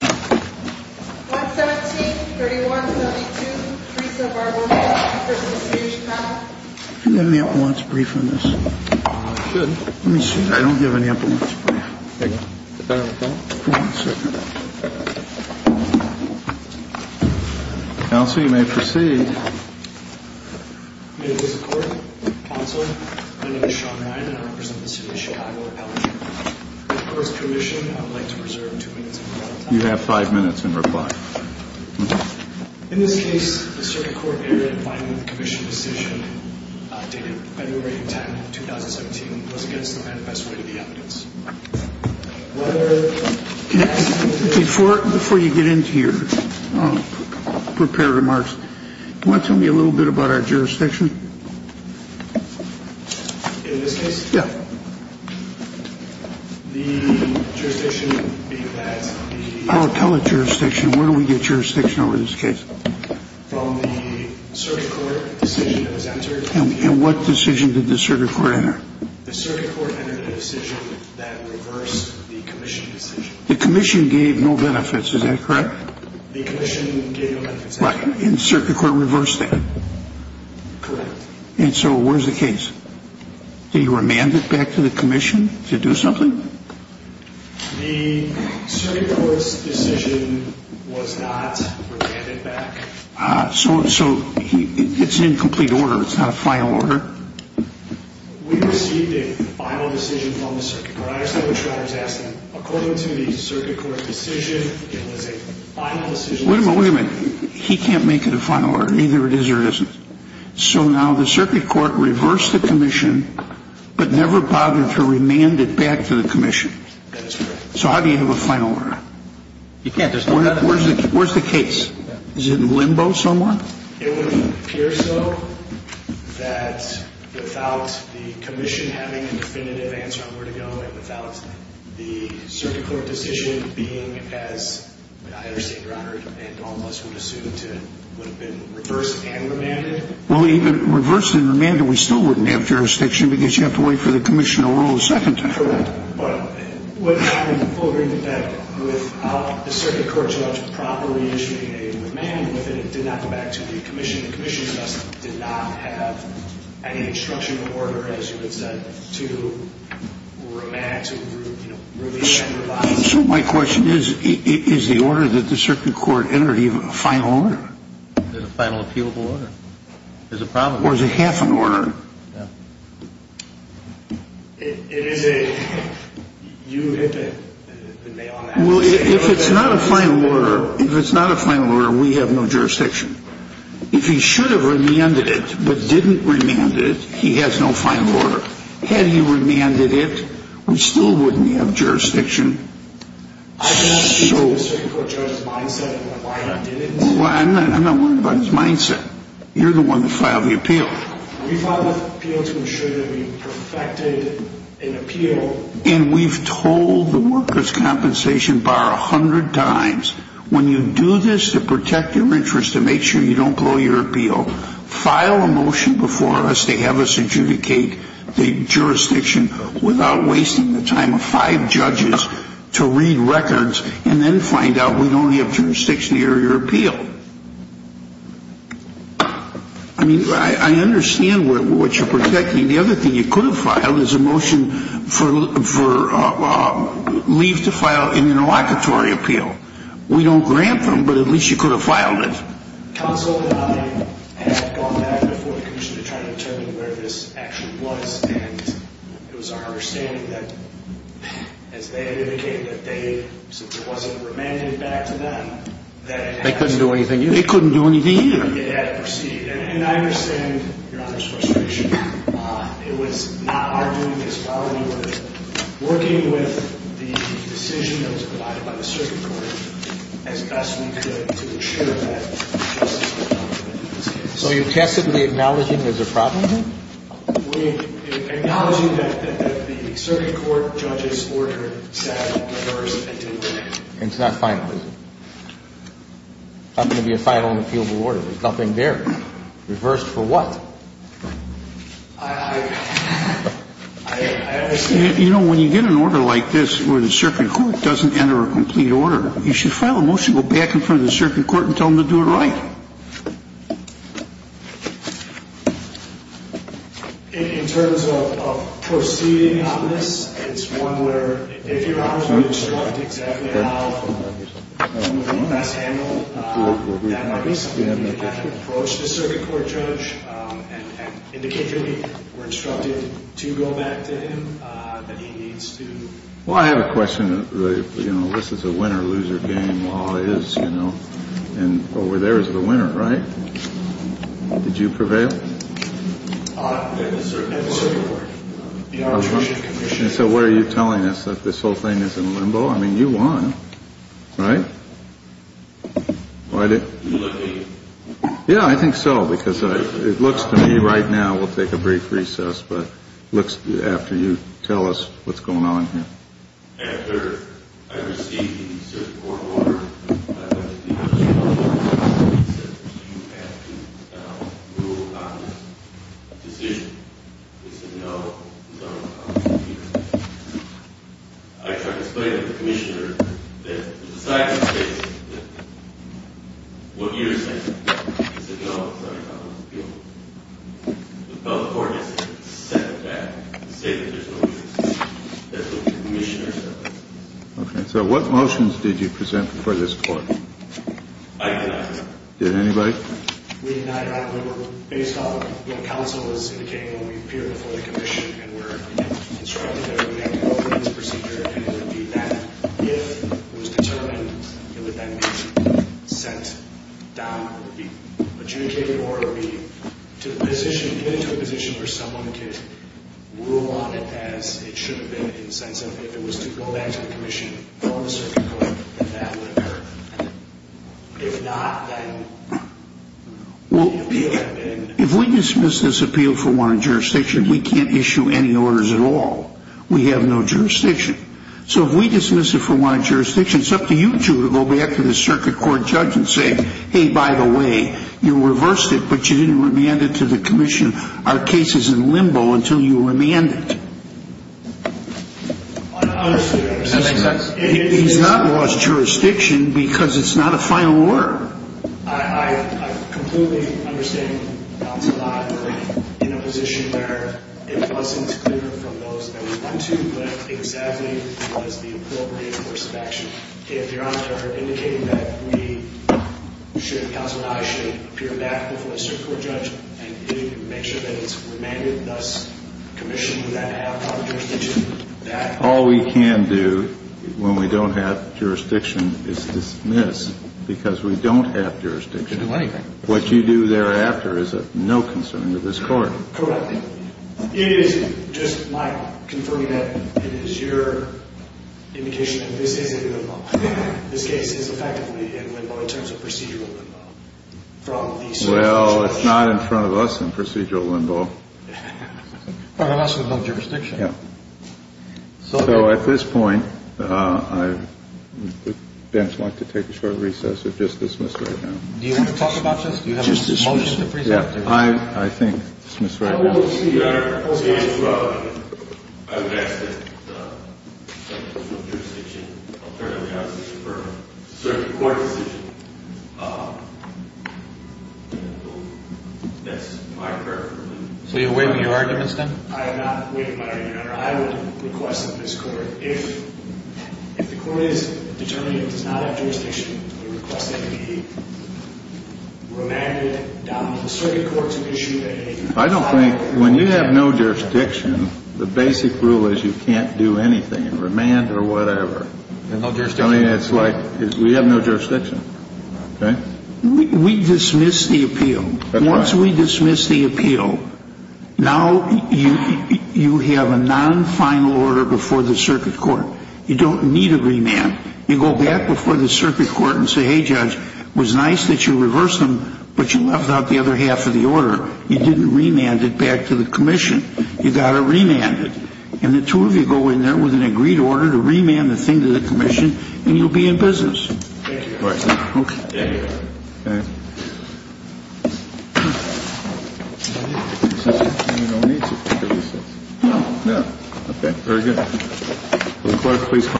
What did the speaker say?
117, 3172, Teresa Barber, City of Chicago May it please the Court, Counsel, my name is Sean Ryan and I represent the City of Chicago. First Commission, I would like to reserve two minutes of your time. You have five minutes in reply. In this case, the Circuit Court variant finding the Commission decision dated February 10, 2017, was against the manifesto rate of the evidence. Before you get into your prepared remarks, do you want to tell me a little bit about our jurisdiction? In this case? Yes. I'll tell the jurisdiction. Where do we get jurisdiction over this case? And what decision did the Circuit Court enter? The Commission gave no benefits, is that correct? Right, and the Circuit Court reversed that. Correct. And so where's the case? Did you remand it back to the Commission to do something? The Circuit Court's decision was not remanded back. So it's in complete order, it's not a final order? We received a final decision from the Circuit Court. I understand what you're asking. According to the Circuit Court decision, it was a final decision. Wait a minute, wait a minute. He can't make it a final order, either it is or it isn't. So now the Circuit Court reversed the Commission but never bothered to remand it back to the Commission. That is correct. So how do you have a final order? You can't, there's no method. Where's the case? Is it in limbo somewhere? It would appear so that without the Commission having a definitive answer on where to go and without the Circuit Court decision being as I understand, Your Honor, and all of us would assume to have been reversed and remanded. Well, even reversed and remanded, we still wouldn't have jurisdiction because you have to wait for the Commission to rule a second time. Correct. But what I'm wondering is that with the Circuit Court judge promptly issuing a remand, but then it did not go back to the Commission, the Commission just did not have any instruction or order, as you had said, to remand, to review and revise. So my question is, is the order that the Circuit Court entered even a final order? Is it a final appealable order? Or is it half an order? Yeah. It is a unipotent. Well, if it's not a final order, if it's not a final order, we have no jurisdiction. If he should have remanded it but didn't remand it, he has no final order. Had he remanded it, we still wouldn't have jurisdiction. I'm not speaking to the Circuit Court judge's mindset of why it didn't. I'm not worried about his mindset. You're the one that filed the appeal. We filed the appeal to ensure that we perfected an appeal. And we've told the workers' compensation bar a hundred times, when you do this to protect your interests, to make sure you don't blow your appeal, file a motion before us to have us adjudicate the jurisdiction without wasting the time of five judges to read records and then find out we only have jurisdiction to hear your appeal. I mean, I understand what you're protecting. The other thing you could have filed is a motion for leave to file an interlocutory appeal. We don't grant them, but at least you could have filed it. Counsel and I had gone back before the commission to try to determine where this action was, and it was our understanding that, as they had indicated, that since it wasn't remanded back to them, that it had to proceed. They couldn't do anything either. They couldn't do anything either. It had to proceed. And I understand Your Honor's frustration. It was not our doing as well. We were working with the decision that was provided by the circuit court as best we could to ensure that justice was dealt with in this case. So you're tacitly acknowledging there's a problem here? We're acknowledging that the circuit court judge's order said that ours had been delayed. And it's not final, is it? It's not going to be a final and appealable order. There's nothing there. Reversed for what? I understand. You know, when you get an order like this where the circuit court doesn't enter a complete order, you should file a motion, go back in front of the circuit court and tell them to do it right. In terms of proceeding on this, it's one where if your opposition is correct, that's exactly how we're going to best handle that. We've had to approach the circuit court judge and indicate to him we're instructed to go back to him that he needs to... Well, I have a question. You know, this is a winner-loser game. Law is, you know, and over there is the winner, right? Did you prevail? At the circuit court. The arbitration commission. So what are you telling us, that this whole thing is in limbo? I mean, you won, right? Are you looking? Yeah, I think so, because it looks to me right now, we'll take a brief recess, but it looks after you tell us what's going on here. After I received the circuit court order, I went to the arbitration court and said, you have to rule on this decision. It's a no-no on this hearing. I tried to explain to the commissioner that the side of the case, that what you're saying is a no-no on this appeal. But the court has to step back and say that there's no use. Okay. So what motions did you present before this court? I did not. Did anybody? We did not. We were based on what counsel was indicating when we appeared before the commission and were instructed that we had to go through this procedure, and it would be that if it was determined, it would then be sent down, it would be adjudicated, or it would be to the position, or someone could rule on it as it should have been, in the sense of if it was to go back to the commission or the circuit court, then that would occur. If not, then the appeal would have been. If we dismiss this appeal for warranted jurisdiction, we can't issue any orders at all. We have no jurisdiction. So if we dismiss it for warranted jurisdiction, it's up to you two to go back to the circuit court judge and say, hey, by the way, you reversed it, but you didn't remand it to the commission. Our case is in limbo until you remand it. I understand. Does that make sense? He's not lost jurisdiction because it's not a final word. I completely understand what counsel and I were in, in a position where it wasn't clear from those that we went to what exactly was the appropriate course of action. If your Honor are indicating that we should, counsel and I should appear back before the circuit court judge and make sure that it's remanded, thus commissioned, would that have proper jurisdiction? All we can do when we don't have jurisdiction is dismiss because we don't have jurisdiction. You can do anything. What you do thereafter is of no concern to this Court. Correct. It is just my confirming that it is your indication that this is in limbo. Well, it's not in front of us in procedural limbo. It's in front of us with no jurisdiction. So at this point, I would like to take a short recess or just dismiss right now. Do you want to talk about this? Do you have a motion to present? I think dismiss right now. Your Honor, I would ask that the judges with jurisdiction alternatively ask for a circuit court decision. That's my preference. So you're waiving your arguments then? I am not waiving my argument, Your Honor. I would request that this Court, if the Court is determined it does not have jurisdiction, we request that it be remanded down to the circuit court to issue that. I don't think when you have no jurisdiction, the basic rule is you can't do anything, remand or whatever. No jurisdiction. I mean, it's like we have no jurisdiction. Okay? We dismiss the appeal. That's right. Once we dismiss the appeal, now you have a non-final order before the circuit court. You don't need a remand. You go back before the circuit court and say, hey, Judge, it was nice that you reversed them, but you left out the other half of the order. You didn't remand it back to the Commission. You got to remand it. And the two of you go in there with an agreed order to remand the thing to the Commission and you'll be in business. Thank you, Your Honor. Okay. Thank you. Okay. Okay. Very good. Will the Court please call the break?